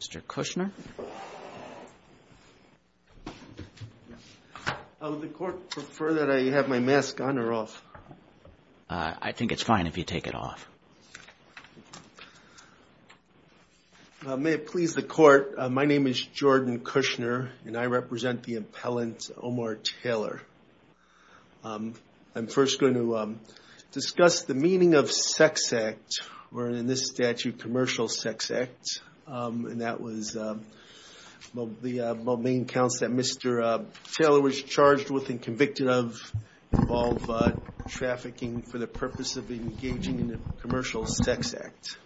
Mr. Kushner. Would the court prefer that I have my mask on or off? I think it's fine if you take it off. May it please the court. My name is Jordan Kushner and I represent the impellent Omar Taylor. I'm first going to discuss the meaning of sex act, or in this statute, commercial sex act. And that was the main counts that Mr. Taylor was charged with and convicted of involve trafficking for the purpose of engaging in a commercial sex act.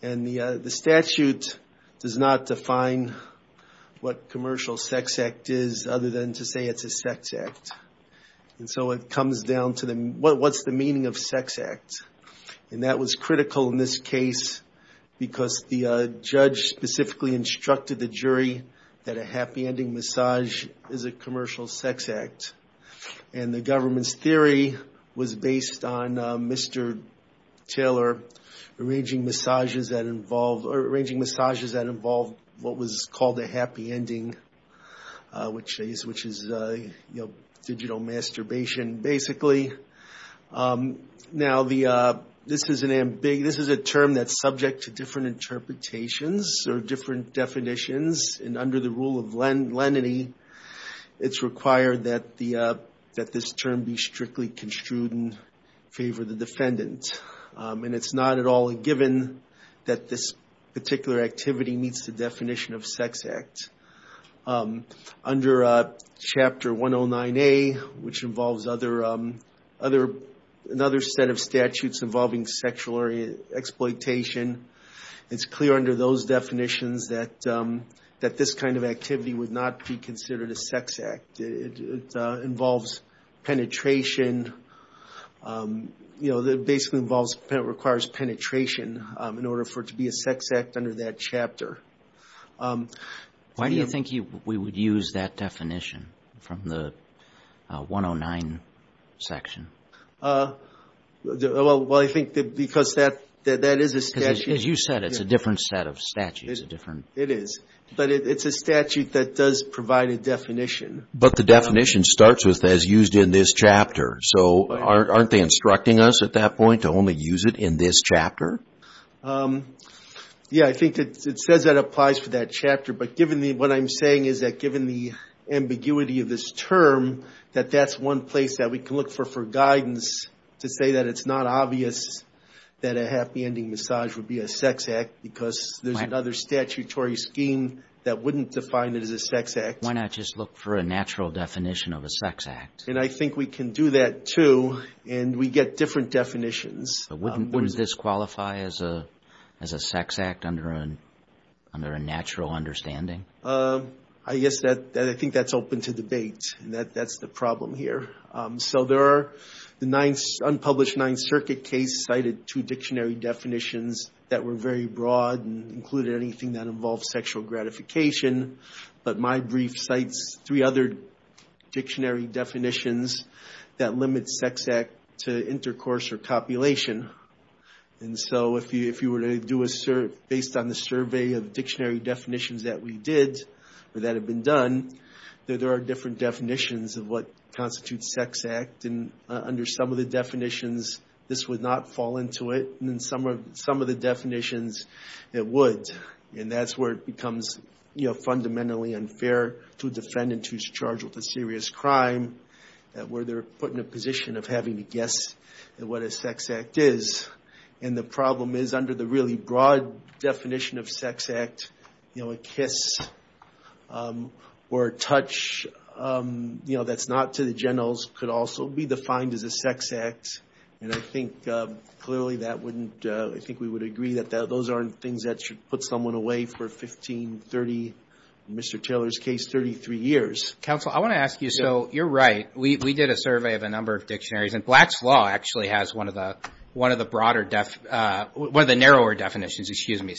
And the statute does not define what commercial sex act is other than to say it's a sex act. And so it comes down to what's the meaning of sex act. And that was critical in this case because the judge specifically instructed the jury that a happy ending massage is a commercial sex act. And the government's theory was based on Mr. Taylor arranging massages that involved what was called a happy ending, which is digital masturbation, basically. Now this is a term that's subject to different interpretations or different definitions. And under the rule of lenity, it's required that this term be strictly construed in favor of the defendant. And it's not at all a given that this particular activity meets the definition of sex act. Under Chapter 109A, which involves another set of statutes involving sexual exploitation, it's clear under those definitions that this kind of activity would not be considered a sex act. It involves penetration. It basically requires penetration in order for it to be a sex act under that chapter. Why do you think we would use that definition from the 109 section? Well, I think because that is a statute. As you said, it's a different set of statutes. It is. But it's a statute that does provide a definition. But the definition starts with, as used in this chapter. So aren't they instructing us at that point to only use it in this chapter? But what I'm saying is that given the ambiguity of this term, that that's one place that we can look for guidance to say that it's not obvious that a happy ending massage would be a sex act because there's another statutory scheme that wouldn't define it as a sex act. Why not just look for a natural definition of a sex act? And I think we can do that, too. And we get different definitions. Wouldn't this qualify as a sex act under a natural understanding? I guess I think that's open to debate. That's the problem here. So there are unpublished Ninth Circuit cases cited two dictionary definitions that were very broad and included anything that involved sexual gratification. But my brief cites three other dictionary definitions that limit sex act to intercourse or copulation. And so if you were to do a survey based on the survey of dictionary definitions that we did or that have been done, there are different definitions of what constitutes sex act. And under some of the definitions, this would not fall into it. And in some of the definitions, it would. And that's where it becomes fundamentally unfair to a defendant who's charged with a serious crime, where they're put in a position of having to guess what a sex act is. And the problem is under the really broad definition of sex act, you know, a kiss or a touch, you know, that's not to the generals could also be defined as a sex act. And I think clearly that wouldn't. I think we would agree that those aren't things that should put someone away for 15, 30, Mr. Taylor's case, 33 years. Counsel, I want to ask you. So you're right. We did a survey of a number of dictionaries. And Black's Law actually has one of the broader definitions, one of the narrower definitions, excuse me,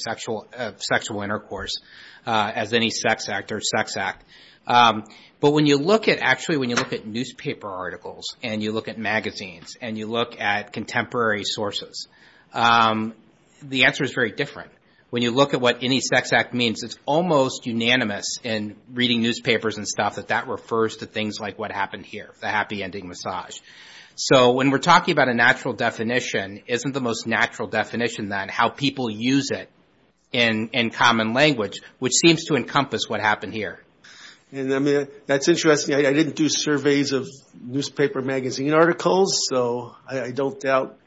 of sexual intercourse as any sex act or sex act. But when you look at actually when you look at newspaper articles and you look at magazines and you look at contemporary sources, the answer is very different. When you look at what any sex act means, it's almost unanimous in reading newspapers and stuff that that refers to things like what happened here, the happy ending massage. So when we're talking about a natural definition, isn't the most natural definition then how people use it in common language, which seems to encompass what happened here? And that's interesting. I didn't do surveys of newspaper magazine articles, so I don't doubt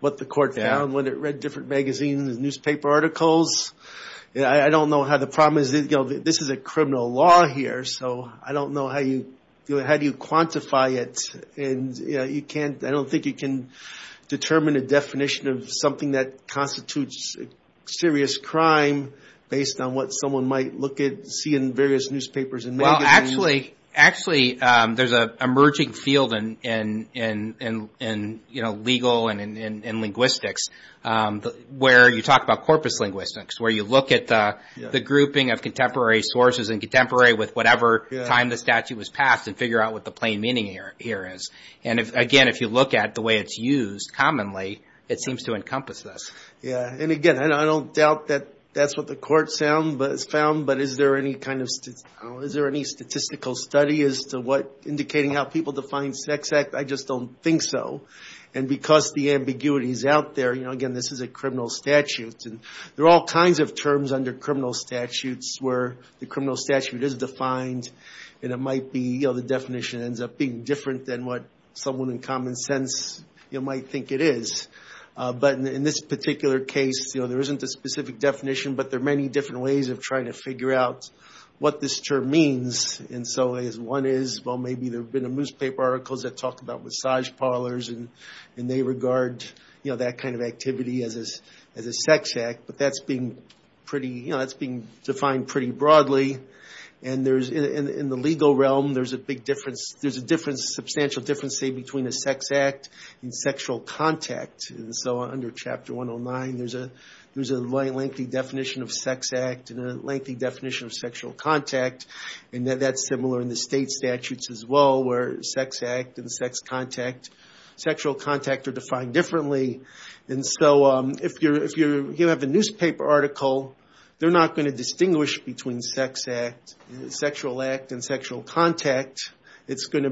what the court found when it read different magazines and newspaper articles. I don't know how the problem is. This is a criminal law here, so I don't know how you do it. How do you quantify it? And I don't think you can determine a definition of something that constitutes serious crime based on what someone might look at, see in various newspapers and magazines. Actually, there's an emerging field in legal and linguistics where you talk about corpus linguistics, where you look at the grouping of contemporary sources and contemporary with whatever time the statute was passed and figure out what the plain meaning here is. And again, if you look at the way it's used commonly, it seems to encompass this. And again, I don't doubt that that's what the court found, but is there any statistical study as to what indicating how people define sex act? I just don't think so. And because the ambiguity is out there, again, this is a criminal statute, and there are all kinds of terms under criminal statutes where the criminal statute is defined and the definition ends up being different than what someone in common sense might think it is. But in this particular case, there isn't a specific definition, but there are many different ways of trying to figure out what this term means. And so one is, well, maybe there have been newspaper articles that talk about massage parlors, and they regard that kind of activity as a sex act. But that's being defined pretty broadly. And in the legal realm, there's a big difference. There's a substantial difference, say, between a sex act and sexual contact. So under Chapter 109, there's a lengthy definition of sex act and a lengthy definition of sexual contact. And that's similar in the state statutes as well, where sex act and sexual contact are defined differently. And so if you have a newspaper article, they're not going to distinguish between sex act, sexual act, and sexual contact. It's going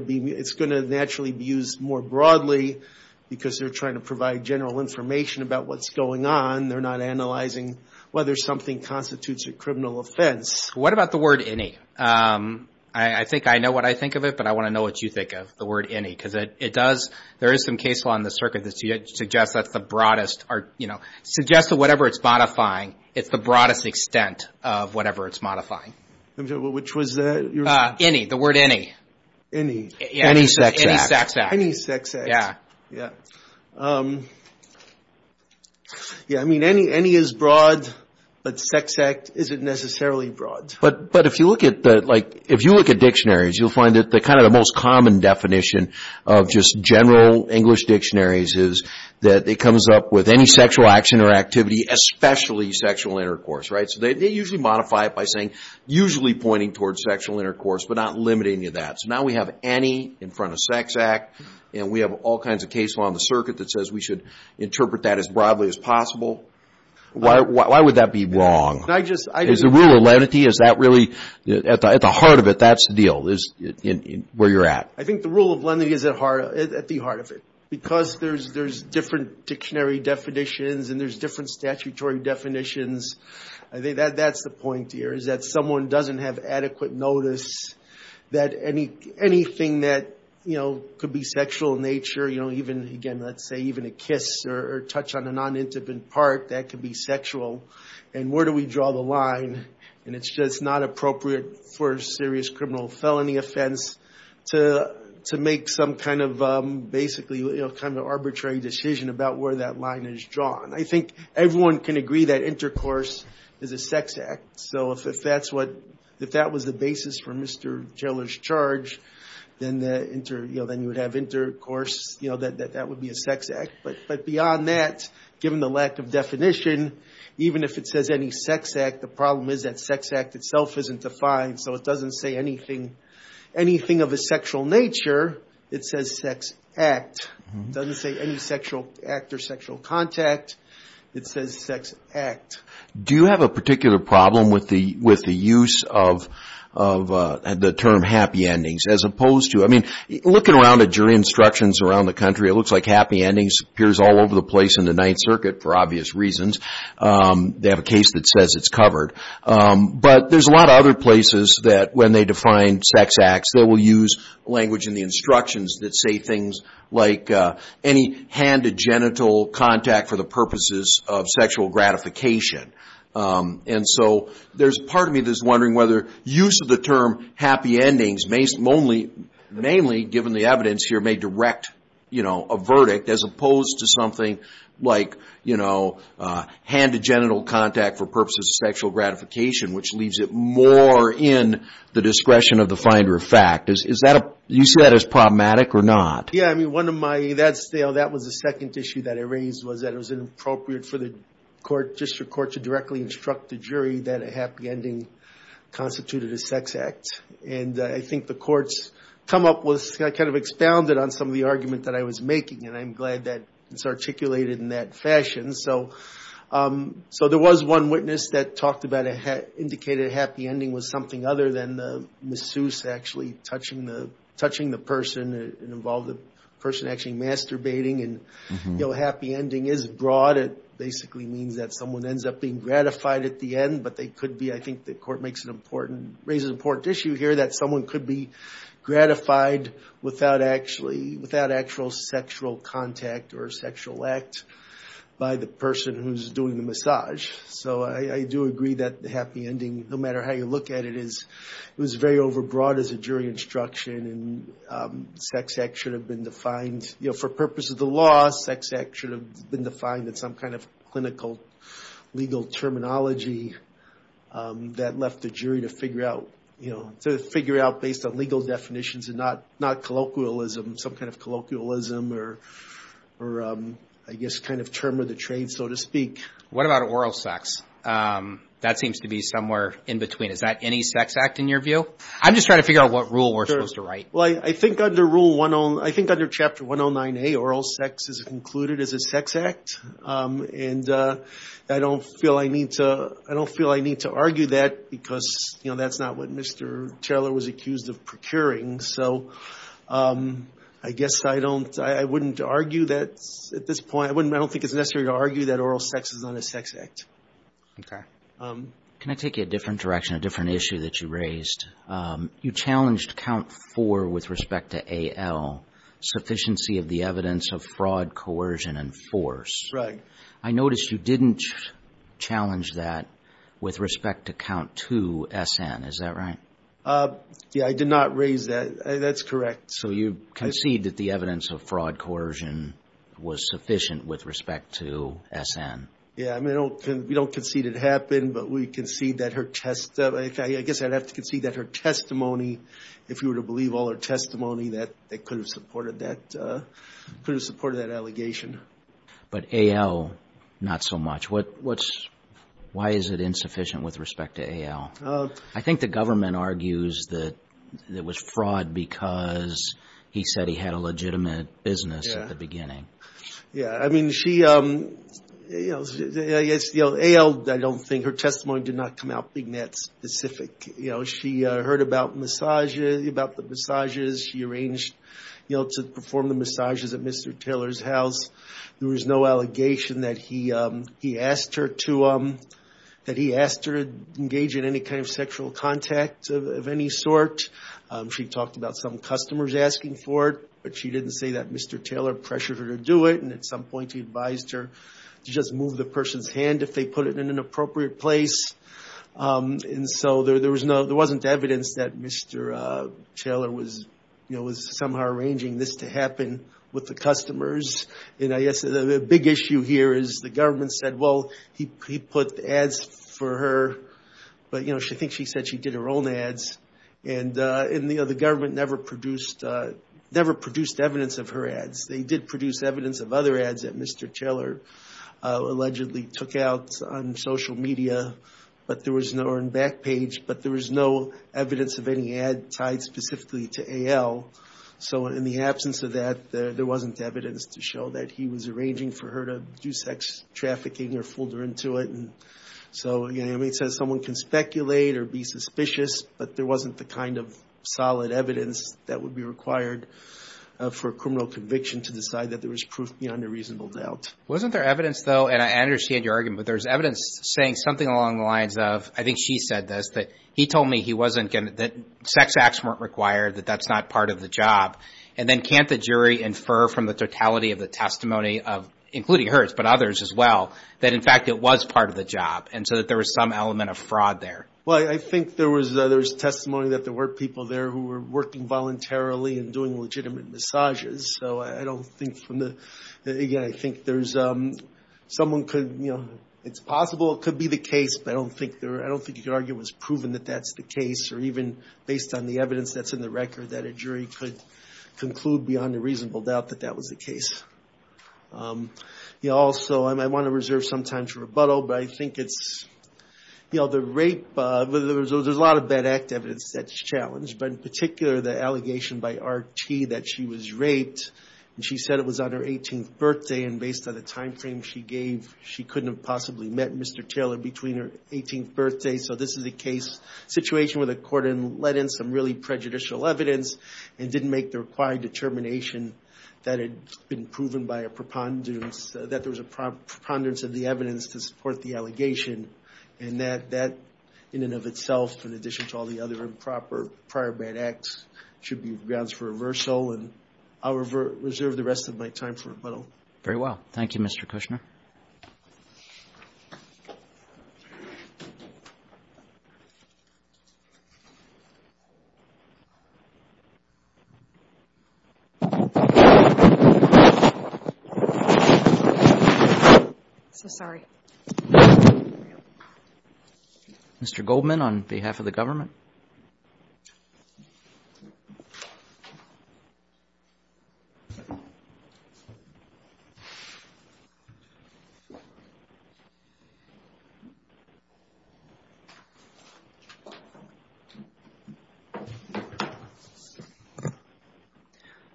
to naturally be used more broadly because they're trying to provide general information about what's going on. They're not analyzing whether something constitutes a criminal offense. What about the word any? I think I know what I think of it, but I want to know what you think of the word any, because it does, there is some case law in the circuit that suggests that's the broadest, or, you know, suggests that whatever it's modifying, it's the broadest extent of whatever it's modifying. Which was that? Any, the word any. Any. Any sex act. Any sex act. Any sex act. Yeah. Yeah, I mean, any is broad, but sex act isn't necessarily broad. But if you look at the, like, if you look at dictionaries, you'll find that kind of the most common definition of just general English dictionaries is that it comes up with any sexual action or activity, especially sexual intercourse, right? So they usually modify it by saying usually pointing towards sexual intercourse, but not limiting you to that. So now we have any in front of sex act, and we have all kinds of case law in the circuit that says we should interpret that as broadly as possible. Why would that be wrong? Is the rule of lenity, is that really, at the heart of it, that's the deal, is where you're at? I think the rule of lenity is at the heart of it. Because there's different dictionary definitions and there's different statutory definitions, I think that's the point here is that someone doesn't have adequate notice that anything that, you know, could be sexual in nature, you know, even, again, let's say even a kiss or a touch on a non-intimate part, that could be sexual. And where do we draw the line? And it's just not appropriate for a serious criminal felony offense to make some kind of basically, you know, kind of arbitrary decision about where that line is drawn. I think everyone can agree that intercourse is a sex act. So if that was the basis for Mr. Jeller's charge, then you would have intercourse, you know, that would be a sex act. But beyond that, given the lack of definition, even if it says any sex act, the problem is that sex act itself isn't defined. So it doesn't say anything of a sexual nature. It says sex act. It doesn't say any sexual act or sexual contact. It says sex act. Do you have a particular problem with the use of the term happy endings as opposed to, I mean, looking around at jury instructions around the country, it looks like happy endings appears all over the place in the Ninth Circuit for obvious reasons. They have a case that says it's covered. But there's a lot of other places that when they define sex acts, they will use language in the instructions that say things like any hand to genital contact for the purposes of sexual gratification. And so there's part of me that's wondering whether use of the term happy endings, mainly given the evidence here, may direct, you know, a verdict as opposed to something like, you know, hand to genital contact for purposes of sexual gratification, which leaves it more in the discretion of the finder of fact. Do you see that as problematic or not? Yeah, I mean, one of my, that was the second issue that I raised, was that it was inappropriate for the court, district court, to directly instruct the jury that a happy ending constituted a sex act. And I think the court's come up with, kind of expounded on some of the argument that I was making, and I'm glad that it's articulated in that fashion. So there was one witness that talked about, indicated a happy ending was something other than the masseuse actually touching the person and involved the person actually masturbating. And, you know, a happy ending is broad. It basically means that someone ends up being gratified at the end, but they could be, I think the court makes an important, raises an important issue here, that someone could be gratified without actually, without actual sexual contact or sexual act by the person who's doing the massage. So I do agree that the happy ending, no matter how you look at it, is it was very overbroad as a jury instruction, and sex act should have been defined, you know, for purposes of the law, sex act should have been defined in some kind of clinical legal terminology that left the jury to figure out, you know, to figure out based on legal definitions and not colloquialism, some kind of colloquialism or I guess kind of term of the trade, so to speak. What about oral sex? That seems to be somewhere in between. Is that any sex act in your view? I'm just trying to figure out what rule we're supposed to write. Well, I think under Rule 109, I think under Chapter 109A, oral sex is included as a sex act. And I don't feel I need to argue that because, you know, that's not what Mr. Taylor was accused of procuring. So I guess I don't, I wouldn't argue that at this point. I don't think it's necessary to argue that oral sex is not a sex act. Okay. Can I take you a different direction, a different issue that you raised? You challenged Count 4 with respect to AL, sufficiency of the evidence of fraud, coercion, and force. Right. I noticed you didn't challenge that with respect to Count 2, SN. Is that right? Yeah, I did not raise that. That's correct. So you concede that the evidence of fraud, coercion was sufficient with respect to SN. Yeah, I mean, we don't concede it happened, but we concede that her testimony, I guess I'd have to concede that her testimony, if you were to believe all her testimony, that they could have supported that, could have supported that allegation. But AL, not so much. What's, why is it insufficient with respect to AL? I think the government argues that it was fraud because he said he had a legitimate business at the beginning. Yeah, I mean, she, you know, AL, I don't think her testimony did not come out being that specific. You know, she heard about massages, about the massages. She arranged, you know, to perform the massages at Mr. Taylor's house. There was no allegation that he asked her to engage in any kind of sexual contact of any sort. She talked about some customers asking for it, but she didn't say that Mr. Taylor pressured her to do it, and at some point he advised her to just move the person's hand if they put it in an appropriate place. And so there was no, there wasn't evidence that Mr. Taylor was, you know, was somehow arranging this to happen with the customers. And I guess the big issue here is the government said, well, he put ads for her, but, you know, I think she said she did her own ads. And, you know, the government never produced, never produced evidence of her ads. They did produce evidence of other ads that Mr. Taylor allegedly took out on social media, but there was no, or on Backpage, but there was no evidence of any ad tied specifically to AL. So in the absence of that, there wasn't evidence to show that he was arranging for her to do sex trafficking or fooled her into it. And so, you know, it says someone can speculate or be suspicious, but there wasn't the kind of solid evidence that would be required for a criminal conviction to decide that there was proof beyond a reasonable doubt. Wasn't there evidence, though, and I understand your argument, but there's evidence saying something along the lines of, I think she said this, that he told me he wasn't going to, that sex acts weren't required, that that's not part of the job. And then can't the jury infer from the totality of the testimony of, including hers, but others as well, that, in fact, it was part of the job, and so that there was some element of fraud there? Well, I think there was testimony that there were people there who were working voluntarily and doing legitimate massages. So I don't think from the, again, I think there's, someone could, you know, it's possible it could be the case, but I don't think you could argue it was proven that that's the case, or even based on the evidence that's in the record that a jury could conclude beyond a reasonable doubt that that was the case. Also, I want to reserve some time to rebuttal, but I think it's, you know, the rape, there's a lot of bad act evidence that's challenged, but in particular the allegation by R.T. that she was raped, and she said it was on her 18th birthday, and based on the time frame she gave, she couldn't have possibly met Mr. Taylor between her 18th birthday. So this is a case, situation where the court had let in some really prejudicial evidence and didn't make the required determination that it had been proven by a preponderance, that there was a preponderance of the evidence to support the allegation, and that in and of itself, in addition to all the other improper prior bad acts, should be grounds for reversal, and I'll reserve the rest of my time for rebuttal. Very well. Thank you, Mr. Kushner. Mr. Goldman, on behalf of the government.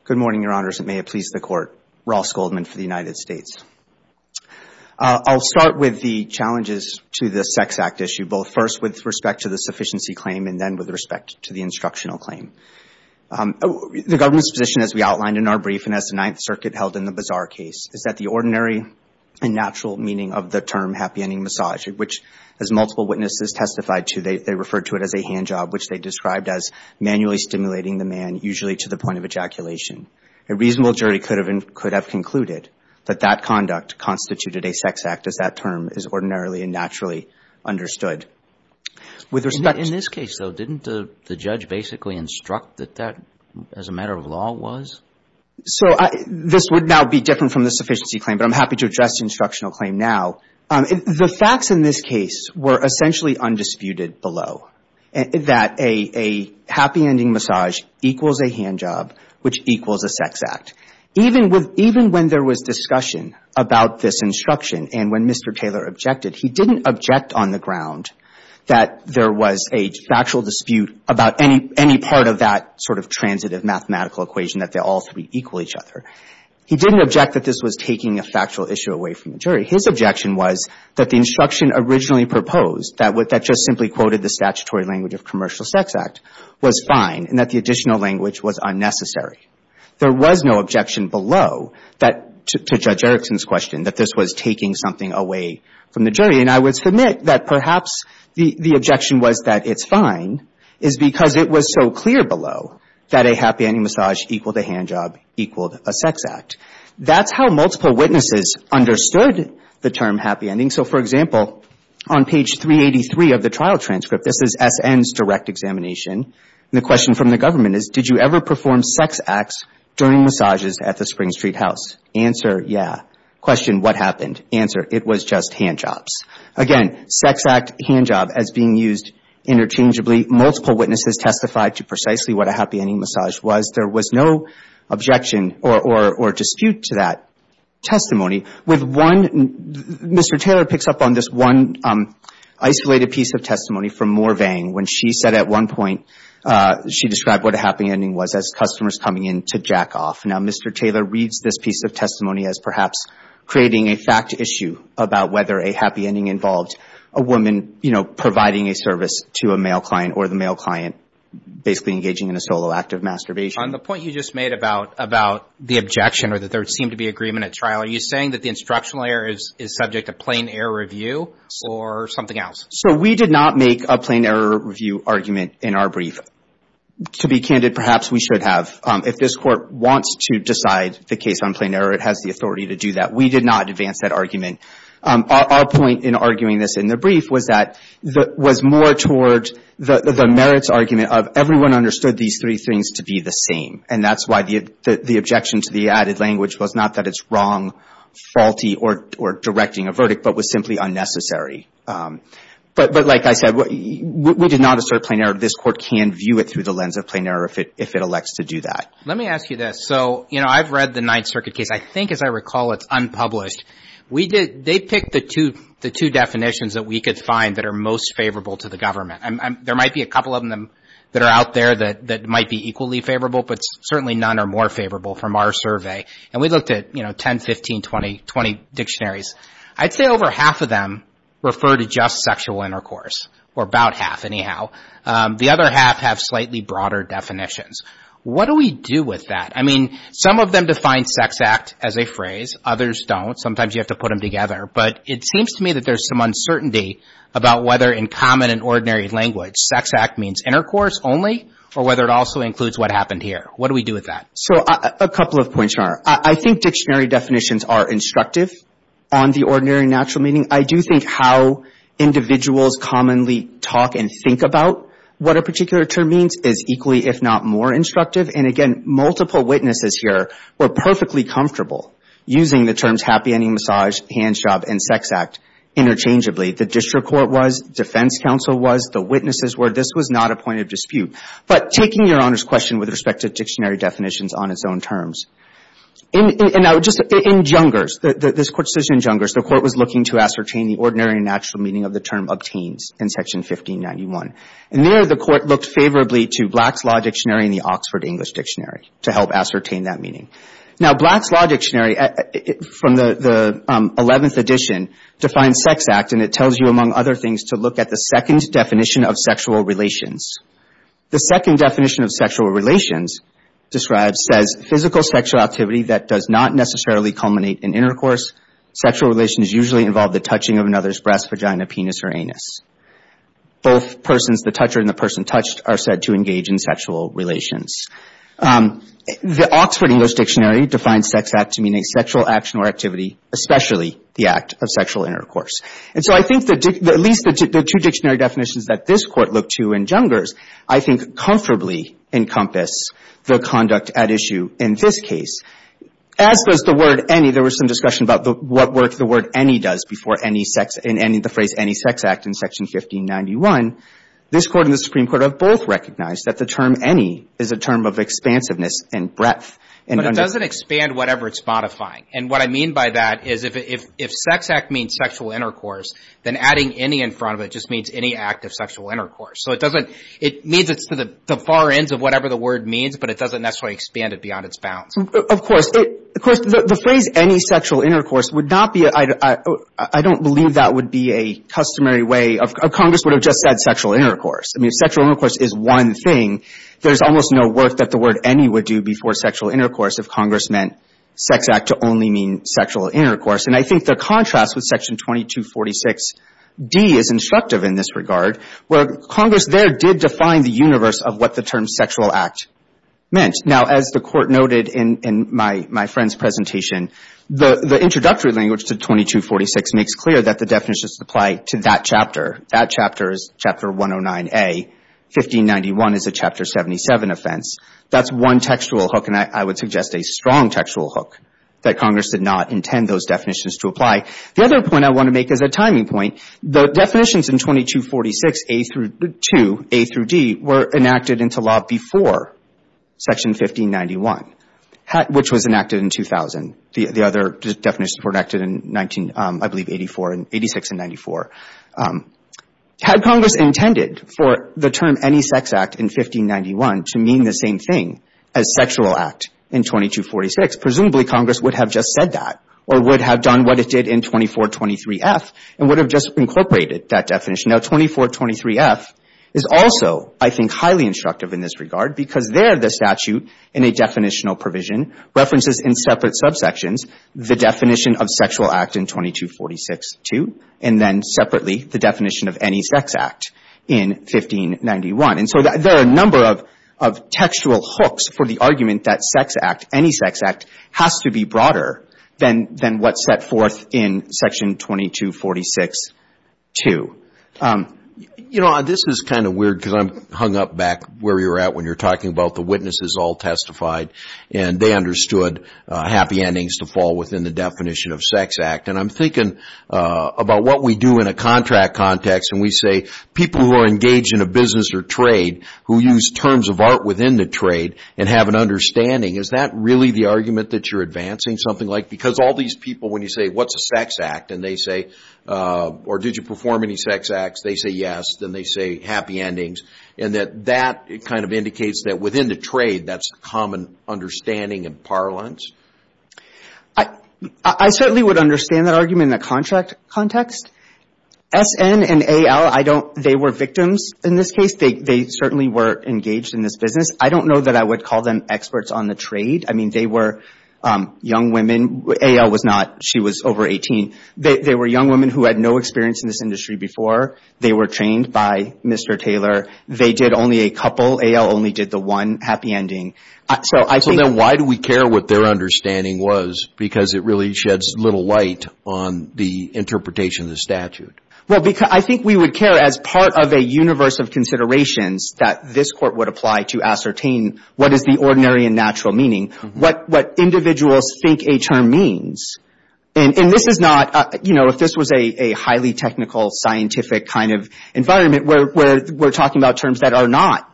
Good morning, Your Honors, and may it please the Court. Ross Goldman for the United States. I'll start with the challenges to the Sex Act issue, both first with respect to the sufficiency claim and then with respect to the instructional claim. The government's position, as we outlined in our brief, and as the Ninth Circuit held in the Bazaar case, is that the ordinary and natural meaning of the term happy ending massage, which, as multiple witnesses testified to, they referred to it as a hand job, which they described as manually stimulating the man, usually to the point of ejaculation. A reasonable jury could have concluded that that conduct constituted a sex act, as that term is ordinarily and naturally understood. In this case, though, didn't the judge basically instruct that that, as a matter of law, was? So this would now be different from the sufficiency claim, but I'm happy to address the instructional claim now. The facts in this case were essentially undisputed below, that a happy ending massage equals a hand job, which equals a sex act. Even when there was discussion about this instruction and when Mr. Taylor objected, he didn't object on the ground that there was a factual dispute about any part of that sort of transitive mathematical equation that the all three equal each other. He didn't object that this was taking a factual issue away from the jury. His objection was that the instruction originally proposed, that just simply quoted the statutory language of commercial sex act, was fine and that the additional language was unnecessary. There was no objection below that, to Judge Erickson's question, that this was taking something away from the jury. And I would submit that perhaps the objection was that it's fine is because it was so clear below that a happy ending massage equaled a hand job, equaled a sex act. That's how multiple witnesses understood the term happy ending. So, for example, on page 383 of the trial transcript, this is SN's direct examination. The question from the government is, did you ever perform sex acts during massages at the Spring Street House? Answer, yeah. Question, what happened? Answer, it was just hand jobs. Again, sex act, hand job as being used interchangeably. Multiple witnesses testified to precisely what a happy ending massage was. There was no objection or dispute to that testimony. With one, Mr. Taylor picks up on this one isolated piece of testimony from Morvang. When she said at one point, she described what a happy ending was as customers coming in to jack off. Now, Mr. Taylor reads this piece of testimony as perhaps creating a fact issue about whether a happy ending involved a woman, you know, providing a service to a male client or the male client basically engaging in a solo act of masturbation. On the point you just made about the objection or that there seemed to be agreement at trial, are you saying that the instructional error is subject to plain error review or something else? So we did not make a plain error review argument in our brief. To be candid, perhaps we should have. If this Court wants to decide the case on plain error, it has the authority to do that. We did not advance that argument. Our point in arguing this in the brief was that it was more toward the merits argument of everyone understood these three things to be the same. And that's why the objection to the added language was not that it's wrong, faulty, or directing a verdict, but was simply unnecessary. But like I said, we did not assert plain error. This Court can view it through the lens of plain error if it elects to do that. Let me ask you this. So, you know, I've read the Ninth Circuit case. I think, as I recall, it's unpublished. They picked the two definitions that we could find that are most favorable to the government. There might be a couple of them that are out there that might be equally favorable, but certainly none are more favorable from our survey. And we looked at, you know, 10, 15, 20 dictionaries. I'd say over half of them refer to just sexual intercourse, or about half, anyhow. The other half have slightly broader definitions. What do we do with that? I mean, some of them define sex act as a phrase. Others don't. Sometimes you have to put them together. But it seems to me that there's some uncertainty about whether, in common and ordinary language, sex act means intercourse only or whether it also includes what happened here. What do we do with that? So, a couple of points, Your Honor. I think dictionary definitions are instructive on the ordinary and natural meaning. I do think how individuals commonly talk and think about what a particular term means is equally, if not more, instructive. And, again, multiple witnesses here were perfectly comfortable using the terms happy ending, massage, hand job, and sex act interchangeably. The district court was. Defense counsel was. This was not a point of dispute. But taking Your Honor's question with respect to dictionary definitions on its own terms. And now, just in Jungers, this Court's decision in Jungers, the Court was looking to ascertain the ordinary and natural meaning of the term obtains in Section 1591. And there, the Court looked favorably to Black's Law Dictionary and the Oxford English Dictionary to help ascertain that meaning. Now, Black's Law Dictionary, from the 11th edition, defines sex act. And it tells you, among other things, to look at the second definition of sexual relations. The second definition of sexual relations describes, says, physical sexual activity that does not necessarily culminate in intercourse. Sexual relations usually involve the touching of another's breast, vagina, penis, or anus. Both persons, the toucher and the person touched, are said to engage in sexual relations. The Oxford English Dictionary defines sex act to mean a sexual action or activity, especially the act of sexual intercourse. And so I think at least the two dictionary definitions that this Court looked to in Jungers, I think, comfortably encompass the conduct at issue in this case. As does the word any. There was some discussion about what work the word any does before any sex in any of the phrase any sex act in Section 1591. This Court and the Supreme Court have both recognized that the term any is a term of expansiveness and breadth. But it doesn't expand whatever it's modifying. And what I mean by that is if sex act means sexual intercourse, then adding any in front of it just means any act of sexual intercourse. So it doesn't – it means it's to the far ends of whatever the word means, but it doesn't necessarily expand it beyond its bounds. Of course. Of course, the phrase any sexual intercourse would not be – I don't believe that would be a customary way of – Congress would have just said sexual intercourse. I mean, sexual intercourse is one thing. There's almost no work that the word any would do before sexual intercourse if Congress meant sex act to only mean sexual intercourse. And I think the contrast with Section 2246d is instructive in this regard, where Congress there did define the universe of what the term sexual act meant. Now, as the Court noted in my friend's presentation, the introductory language to 2246 makes clear that the definitions apply to that chapter. That chapter is Chapter 109A. 1591 is a Chapter 77 offense. That's one textual hook, and I would suggest a strong textual hook that Congress did not intend those definitions to apply. The other point I want to make is a timing point. The definitions in 2246a through 2, a through d, were enacted into law before Section 1591, which was enacted in 2000. The other definitions were enacted in 19 – I believe, 84 – 86 and 94. Had Congress intended for the term any sex act in 1591 to mean the same thing as sexual act in 2246, presumably Congress would have just said that or would have done what it did in 2423f and would have just incorporated that definition. Now, 2423f is also, I think, highly instructive in this regard because there the statute in a definitional provision references in separate subsections the definition of sexual act in 2246, too, and then separately the definition of any sex act in 1591. And so there are a number of textual hooks for the argument that sex act, any sex act, has to be broader than what's set forth in Section 2246, too. You know, this is kind of weird because I'm hung up back where you're at when you're talking about the witnesses all testified and they understood happy endings to fall within the definition of sex act. And I'm thinking about what we do in a contract context and we say people who are engaged in a business or trade who use terms of art within the trade and have an understanding. Is that really the argument that you're advancing? Something like because all these people when you say what's a sex act and they say or did you perform any sex acts, they say yes, then they say happy endings, and that that kind of indicates that within the trade that's a common understanding and parlance? I certainly would understand that argument in a contract context. S.N. and A.L., they were victims in this case. They certainly were engaged in this business. I don't know that I would call them experts on the trade. I mean, they were young women. A.L. was not. She was over 18. They were young women who had no experience in this industry before. They were trained by Mr. Taylor. They did only a couple. A.L. only did the one happy ending. So then why do we care what their understanding was? Because it really sheds little light on the interpretation of the statute. Well, I think we would care as part of a universe of considerations that this court would apply to ascertain what is the ordinary and natural meaning, what individuals think a term means. And this is not, you know, if this was a highly technical scientific kind of environment where we're talking about terms that are not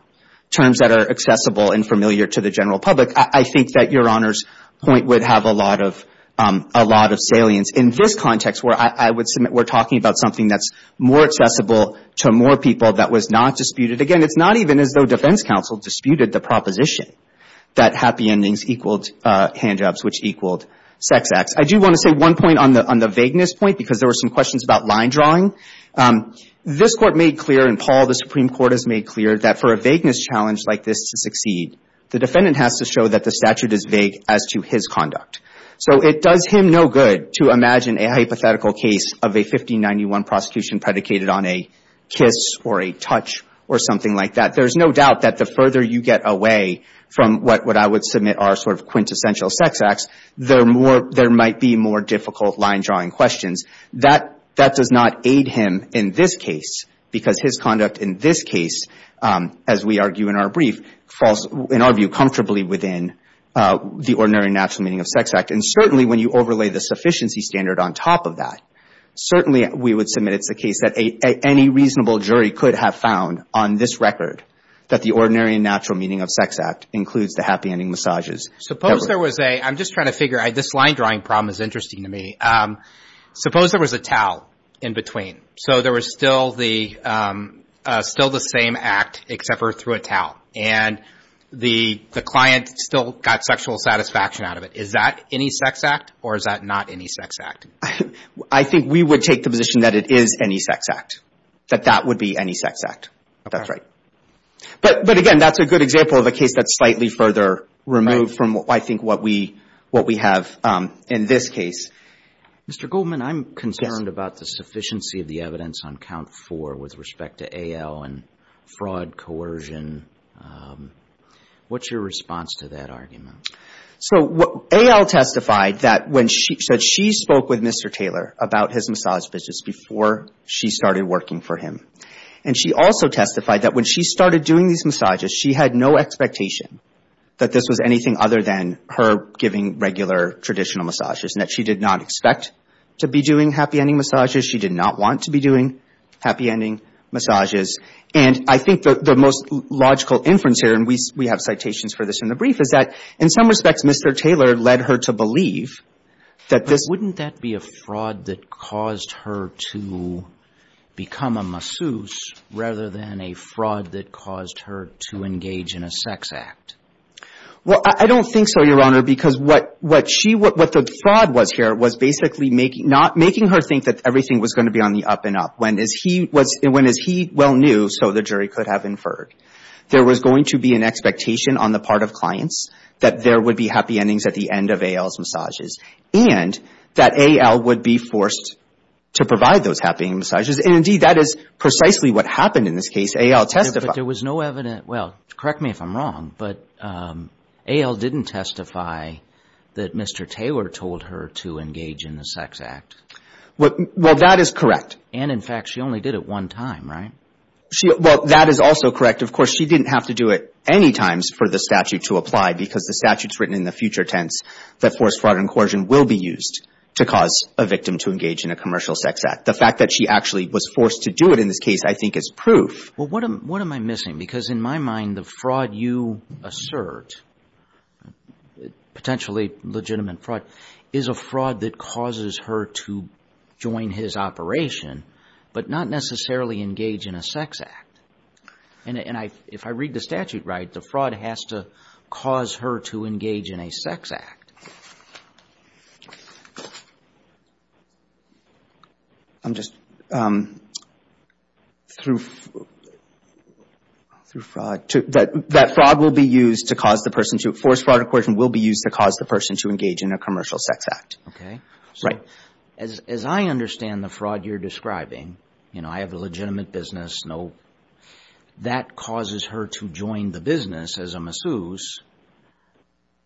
to the general public, I think that Your Honor's point would have a lot of salience. In this context where I would submit we're talking about something that's more accessible to more people that was not disputed, again, it's not even as though defense counsel disputed the proposition that happy endings equaled handjobs, which equaled sex acts. I do want to say one point on the vagueness point because there were some questions about line drawing. This Court made clear, and Paul, the Supreme Court, has made clear that for a vagueness challenge like this to succeed, the defendant has to show that the statute is vague as to his conduct. So it does him no good to imagine a hypothetical case of a 1591 prosecution predicated on a kiss or a touch or something like that. There's no doubt that the further you get away from what I would submit are sort of quintessential sex acts, there might be more difficult line drawing questions. That does not aid him in this case because his conduct in this case, as we argue in our brief, falls in our view comfortably within the Ordinary and Natural Meaning of Sex Act. And certainly when you overlay the sufficiency standard on top of that, certainly we would submit it's the case that any reasonable jury could have found on this record that the Ordinary and Natural Meaning of Sex Act includes the happy ending massages. Suppose there was a, I'm just trying to figure, this line drawing problem is interesting to me. Suppose there was a towel in between. So there was still the same act except for through a towel. And the client still got sexual satisfaction out of it. Is that any sex act or is that not any sex act? I think we would take the position that it is any sex act. That that would be any sex act. That's right. But, again, that's a good example of a case that's slightly further removed from, I think, what we have in this case. Mr. Goldman, I'm concerned about the sufficiency of the evidence on Count 4 with respect to A.L. and fraud, coercion. What's your response to that argument? So A.L. testified that she spoke with Mr. Taylor about his massage visits before she started working for him. And she also testified that when she started doing these massages, she had no expectation that this was anything other than her giving regular traditional massages, and that she did not expect to be doing happy ending massages. She did not want to be doing happy ending massages. And I think the most logical inference here, and we have citations for this in the brief, is that in some respects Mr. Taylor led her to believe that this — rather than a fraud that caused her to engage in a sex act. Well, I don't think so, Your Honor, because what she — what the fraud was here was basically making — not making her think that everything was going to be on the up and up. When, as he was — when, as he well knew, so the jury could have inferred, there was going to be an expectation on the part of clients that there would be happy endings at the end of A.L.'s massages, and that A.L. would be forced to provide those happy ending massages. And, indeed, that is precisely what happened in this case. A.L. testified — But there was no evident — well, correct me if I'm wrong, but A.L. didn't testify that Mr. Taylor told her to engage in the sex act. Well, that is correct. And, in fact, she only did it one time, right? She — well, that is also correct. Of course, she didn't have to do it any times for the statute to apply, because the statute's written in the future tense that forced fraud and coercion will be used to cause a victim to engage in a commercial sex act. The fact that she actually was forced to do it in this case, I think, is proof. Well, what am I missing? Because, in my mind, the fraud you assert, potentially legitimate fraud, is a fraud that causes her to join his operation, but not necessarily engage in a sex act. And if I read the statute right, the fraud has to cause her to engage in a sex act. I'm just — through fraud — that fraud will be used to cause the person to — forced fraud and coercion will be used to cause the person to engage in a commercial sex act. Okay. Right. So, as I understand the fraud you're describing, you know, I have a legitimate business, nope. That causes her to join the business as a masseuse,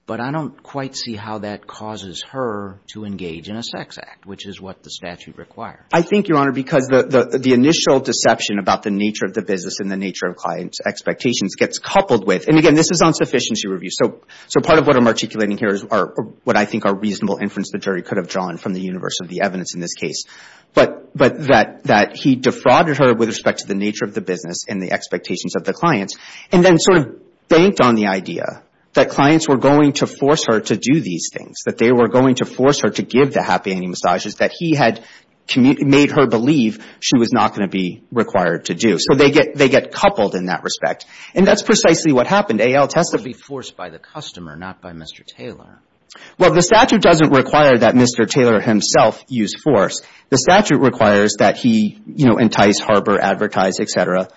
but I don't quite see how that causes her to engage in a sex act, which is what the statute requires. I think, Your Honor, because the initial deception about the nature of the business and the nature of a client's expectations gets coupled with — and, again, this is on sufficiency review. So part of what I'm articulating here is what I think are reasonable inferences the jury could have drawn from the universe of the evidence in this case. But that he defrauded her with respect to the nature of the business and the expectations of the clients and then sort of banked on the idea that clients were going to force her to do these things, that they were going to force her to give the happy ending massages that he had made her believe she was not going to be required to do. So they get coupled in that respect. And that's precisely what happened. A.L. tested — It would be forced by the customer, not by Mr. Taylor. Well, the statute doesn't require that Mr. Taylor himself use force. The statute requires that he, you know, entice, harbor, advertise, et cetera,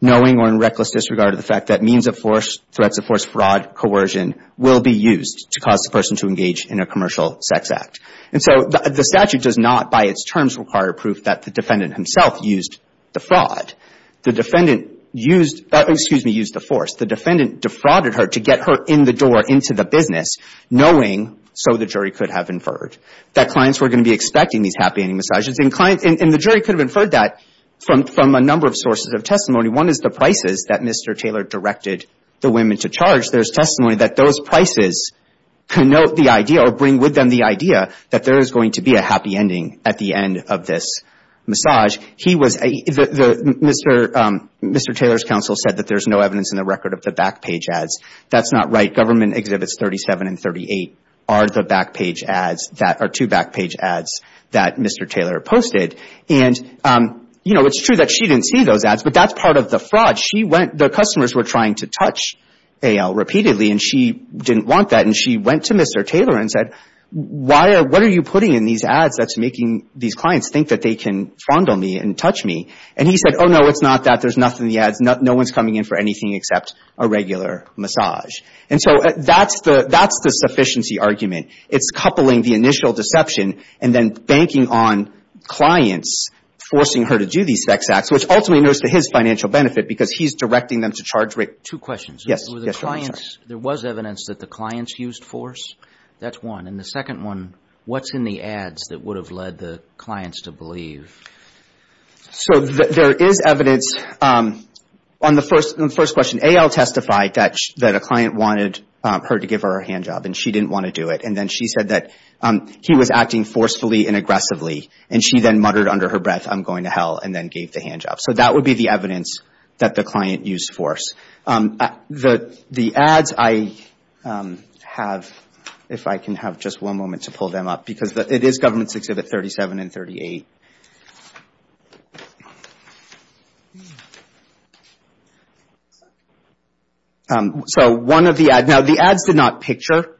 knowing or in reckless disregard of the fact that means of force, threats of force, fraud, coercion, will be used to cause the person to engage in a commercial sex act. And so the statute does not, by its terms, require proof that the defendant himself used the fraud. The defendant used — excuse me, used the force. The defendant defrauded her to get her in the door, into the business, knowing, so the jury could have inferred, that clients were going to be expecting these happy ending massages. And the jury could have inferred that from a number of sources of testimony. One is the prices that Mr. Taylor directed the women to charge. There's testimony that those prices connote the idea or bring with them the idea that there is going to be a happy ending at the end of this massage. He was — Mr. Taylor's counsel said that there's no evidence in the record of the back page ads. That's not right. Government Exhibits 37 and 38 are the back page ads that — are two back page ads that Mr. Taylor posted. And, you know, it's true that she didn't see those ads, but that's part of the fraud. She went — the customers were trying to touch A.L. repeatedly, and she didn't want that. And she went to Mr. Taylor and said, what are you putting in these ads that's making these clients think that they can fondle me and touch me? And he said, oh, no, it's not that. There's nothing in the ads. No one's coming in for anything except a regular massage. And so that's the — that's the sufficiency argument. It's coupling the initial deception and then banking on clients forcing her to do these sex acts, which ultimately goes to his financial benefit because he's directing them to charge — Two questions. Yes. Were the clients — there was evidence that the clients used force? That's one. And the second one, what's in the ads that would have led the clients to believe? So there is evidence on the first question. A.L. testified that a client wanted her to give her a handjob, and she didn't want to do it. And then she said that he was acting forcefully and aggressively, and she then muttered under her breath, I'm going to hell, and then gave the handjob. So that would be the evidence that the client used force. The ads, I have — if I can have just one moment to pull them up, because it is Government's Exhibit 37 and 38. So one of the ads — now, the ads did not picture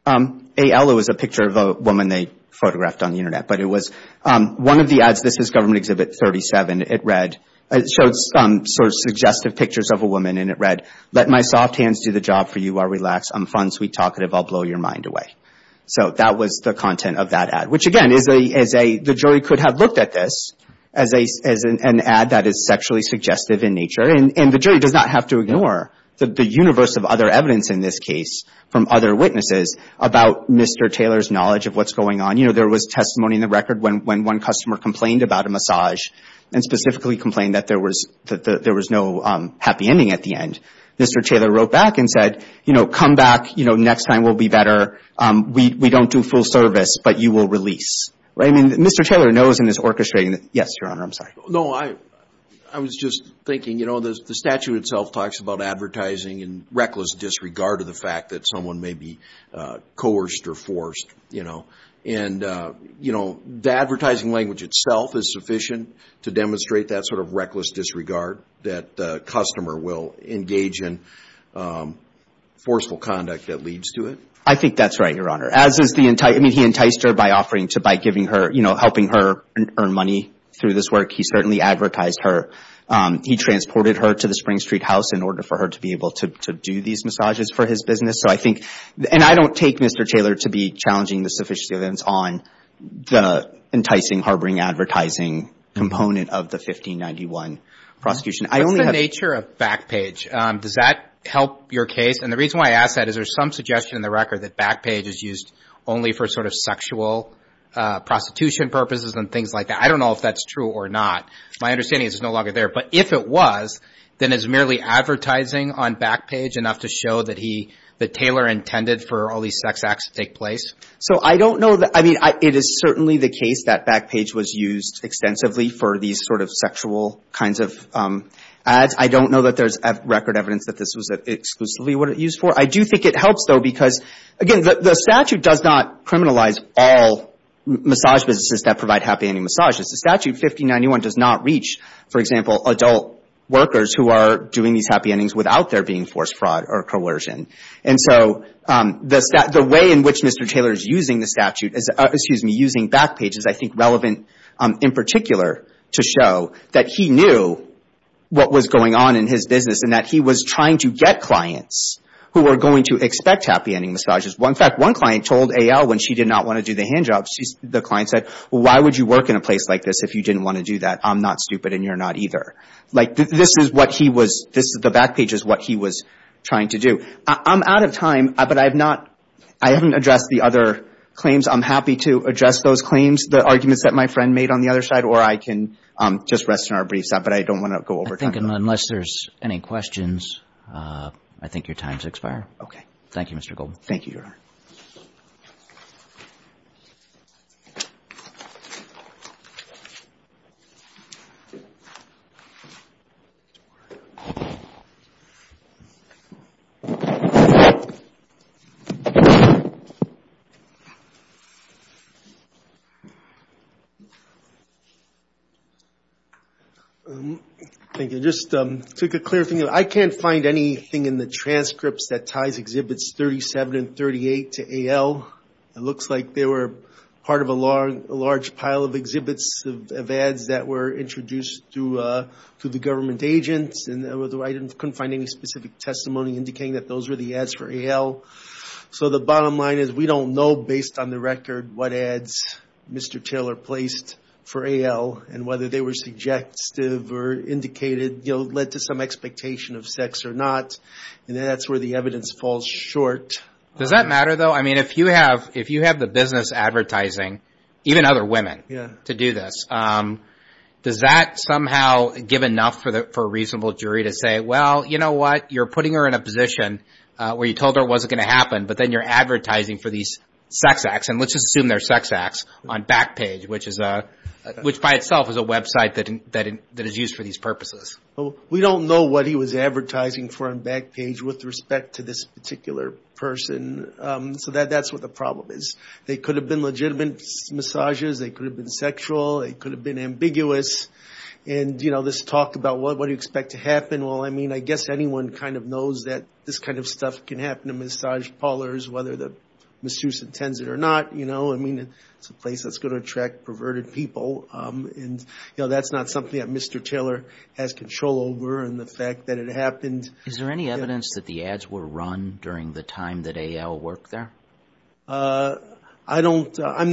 — A.L. was a picture of a woman they photographed on the Internet, but it was one of the ads. This is Government Exhibit 37. It read — it showed some sort of suggestive pictures of a woman, and it read, Let my soft hands do the job for you. I'll relax. I'm fun, sweet, talkative. I'll blow your mind away. So that was the content of that ad, which, again, is a — the jury could have looked at this as an ad that is sexually suggestive in nature, and the jury does not have to ignore the universe of other evidence in this case from other witnesses about Mr. Taylor's knowledge of what's going on. You know, there was testimony in the record when one customer complained about a massage and specifically complained that there was no happy ending at the end. Mr. Taylor wrote back and said, you know, come back. You know, next time we'll be better. We don't do full service, but you will release. I mean, Mr. Taylor knows in his orchestrating that — yes, Your Honor, I'm sorry. No, I was just thinking, you know, the statute itself talks about advertising in reckless disregard of the fact that someone may be coerced or forced, you know, and, you know, the advertising language itself is sufficient to demonstrate that sort of reckless disregard that the customer will engage in forceful conduct that leads to it. I think that's right, Your Honor, as is the — I mean, he enticed her by offering to — by giving her — you know, helping her earn money through this work. He certainly advertised her. He transported her to the Spring Street house in order for her to be able to do these massages for his business. So I think — and I don't take Mr. Taylor to be challenging the sufficiency of evidence on the enticing harboring advertising component of the 1591 prosecution. I only have — What's the nature of Backpage? Does that help your case? And the reason why I ask that is there's some suggestion in the record that Backpage is used only for sort of sexual prostitution purposes and things like that. I don't know if that's true or not. My understanding is it's no longer there. But if it was, then is merely advertising on Backpage enough to show that he — that Taylor intended for all these sex acts to take place? So I don't know. I mean, it is certainly the case that Backpage was used extensively for these sort of sexual kinds of ads. I don't know that there's record evidence that this was exclusively what it was used for. I do think it helps, though, because, again, the statute does not criminalize all massage businesses that provide happy ending massages. The statute, 1591, does not reach, for example, adult workers who are doing these happy endings without there being forced fraud or coercion. And so the way in which Mr. Taylor is using the statute — excuse me, using Backpage is, I think, relevant in particular to show that he knew what was going on in his business and that he was trying to get clients who were going to expect happy ending massages. In fact, one client told A.L. when she did not want to do the handjob, the client said, well, why would you work in a place like this if you didn't want to do that? I'm not stupid and you're not either. Like, this is what he was — the Backpage is what he was trying to do. I'm out of time, but I have not — I haven't addressed the other claims. I'm happy to address those claims, the arguments that my friend made on the other side, or I can just rest in our briefs, but I don't want to go over time. I think unless there's any questions, I think your time has expired. Okay. Thank you, Mr. Goldman. Thank you, Your Honor. Don't worry. Thank you. I just took a clear — I can't find anything in the transcripts that ties Exhibits 37 and 38 to A.L. It looks like they were part of a large pile of exhibits of ads that were introduced to the government agents, and I couldn't find any specific testimony indicating that those were the ads for A.L. So the bottom line is we don't know, based on the record, what ads Mr. Taylor placed for A.L. and whether they were subjective or indicated, you know, led to some expectation of sex or not, and that's where the evidence falls short. Does that matter, though? I mean, if you have the business advertising, even other women, to do this, does that somehow give enough for a reasonable jury to say, well, you know what, you're putting her in a position where you told her it wasn't going to happen, but then you're advertising for these sex acts, and let's just assume they're sex acts, on Backpage, which by itself is a website that is used for these purposes. Well, we don't know what he was advertising for on Backpage with respect to this particular person, so that's what the problem is. They could have been legitimate massages, they could have been sexual, they could have been ambiguous, and, you know, this talk about what do you expect to happen, well, I mean, I guess anyone kind of knows that this kind of stuff can happen to massage parlors, whether the masseuse intends it or not, you know. I mean, it's a place that's going to attract perverted people, and, you know, that's not something that Mr. Taylor has control over, and the fact that it happened. Is there any evidence that the ads were run during the time that A.L. worked there? I don't know. I'm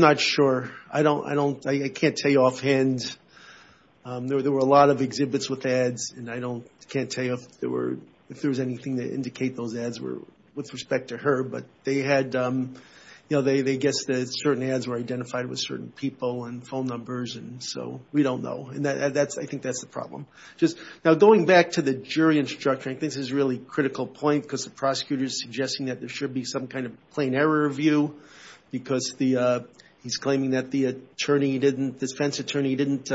not sure. I can't tell you offhand. There were a lot of exhibits with ads, and I can't tell you if there was anything to indicate those ads were with respect to her, but they had, you know, they guessed that certain ads were identified with certain people and phone numbers, and so we don't know, and I think that's the problem. Now, going back to the jury instruction, I think this is a really critical point because the prosecutor is suggesting that there should be some kind of plain error view because he's claiming that the defense attorney didn't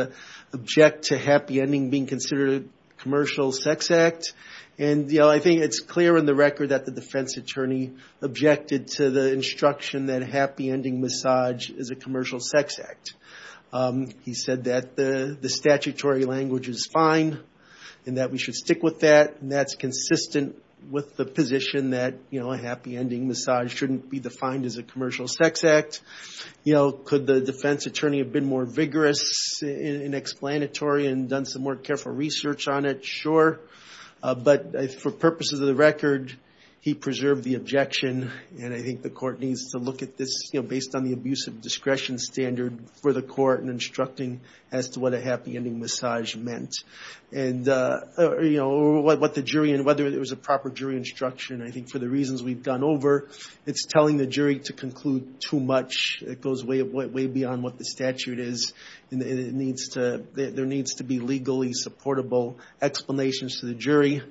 object to happy ending being considered a commercial sex act, and, you know, I think it's clear in the record that the defense attorney objected to the instruction that a happy ending massage is a commercial sex act. He said that the statutory language is fine and that we should stick with that, and that's consistent with the position that, you know, a happy ending massage shouldn't be defined as a commercial sex act. You know, could the defense attorney have been more vigorous and explanatory and done some more careful research on it? Sure, but for purposes of the record, he preserved the objection, and I think the court needs to look at this, you know, based on the abusive discretion standard for the court and instructing as to what a happy ending massage meant. And, you know, what the jury and whether it was a proper jury instruction, I think for the reasons we've gone over, it's telling the jury to conclude too much. It goes way beyond what the statute is, and there needs to be legally supportable explanations to the jury.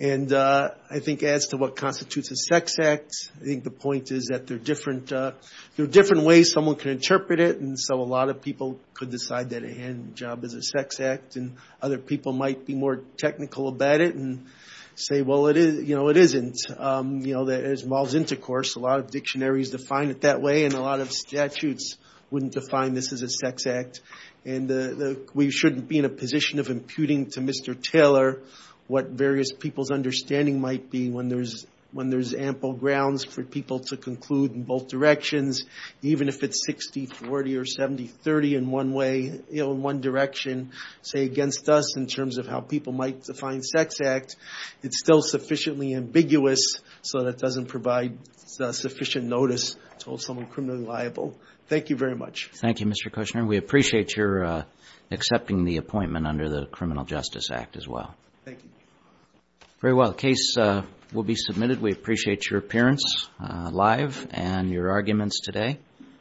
And I think as to what constitutes a sex act, I think the point is that there are different ways someone can interpret it, and so a lot of people could decide that a hand job is a sex act, and other people might be more technical about it and say, well, you know, it isn't. You know, as well as intercourse, a lot of dictionaries define it that way, and a lot of statutes wouldn't define this as a sex act. And we shouldn't be in a position of imputing to Mr. Taylor what various people's understanding might be when there's ample grounds for people to conclude in both directions, even if it's 60-40 or 70-30 in one way, you know, in one direction, say against us in terms of how people might define sex act. It's still sufficiently ambiguous so that it doesn't provide sufficient notice to hold someone criminally liable. Thank you very much. Thank you, Mr. Kushner. We appreciate your accepting the appointment under the Criminal Justice Act as well. Thank you. Very well. The case will be submitted. We appreciate your appearance live and your arguments today.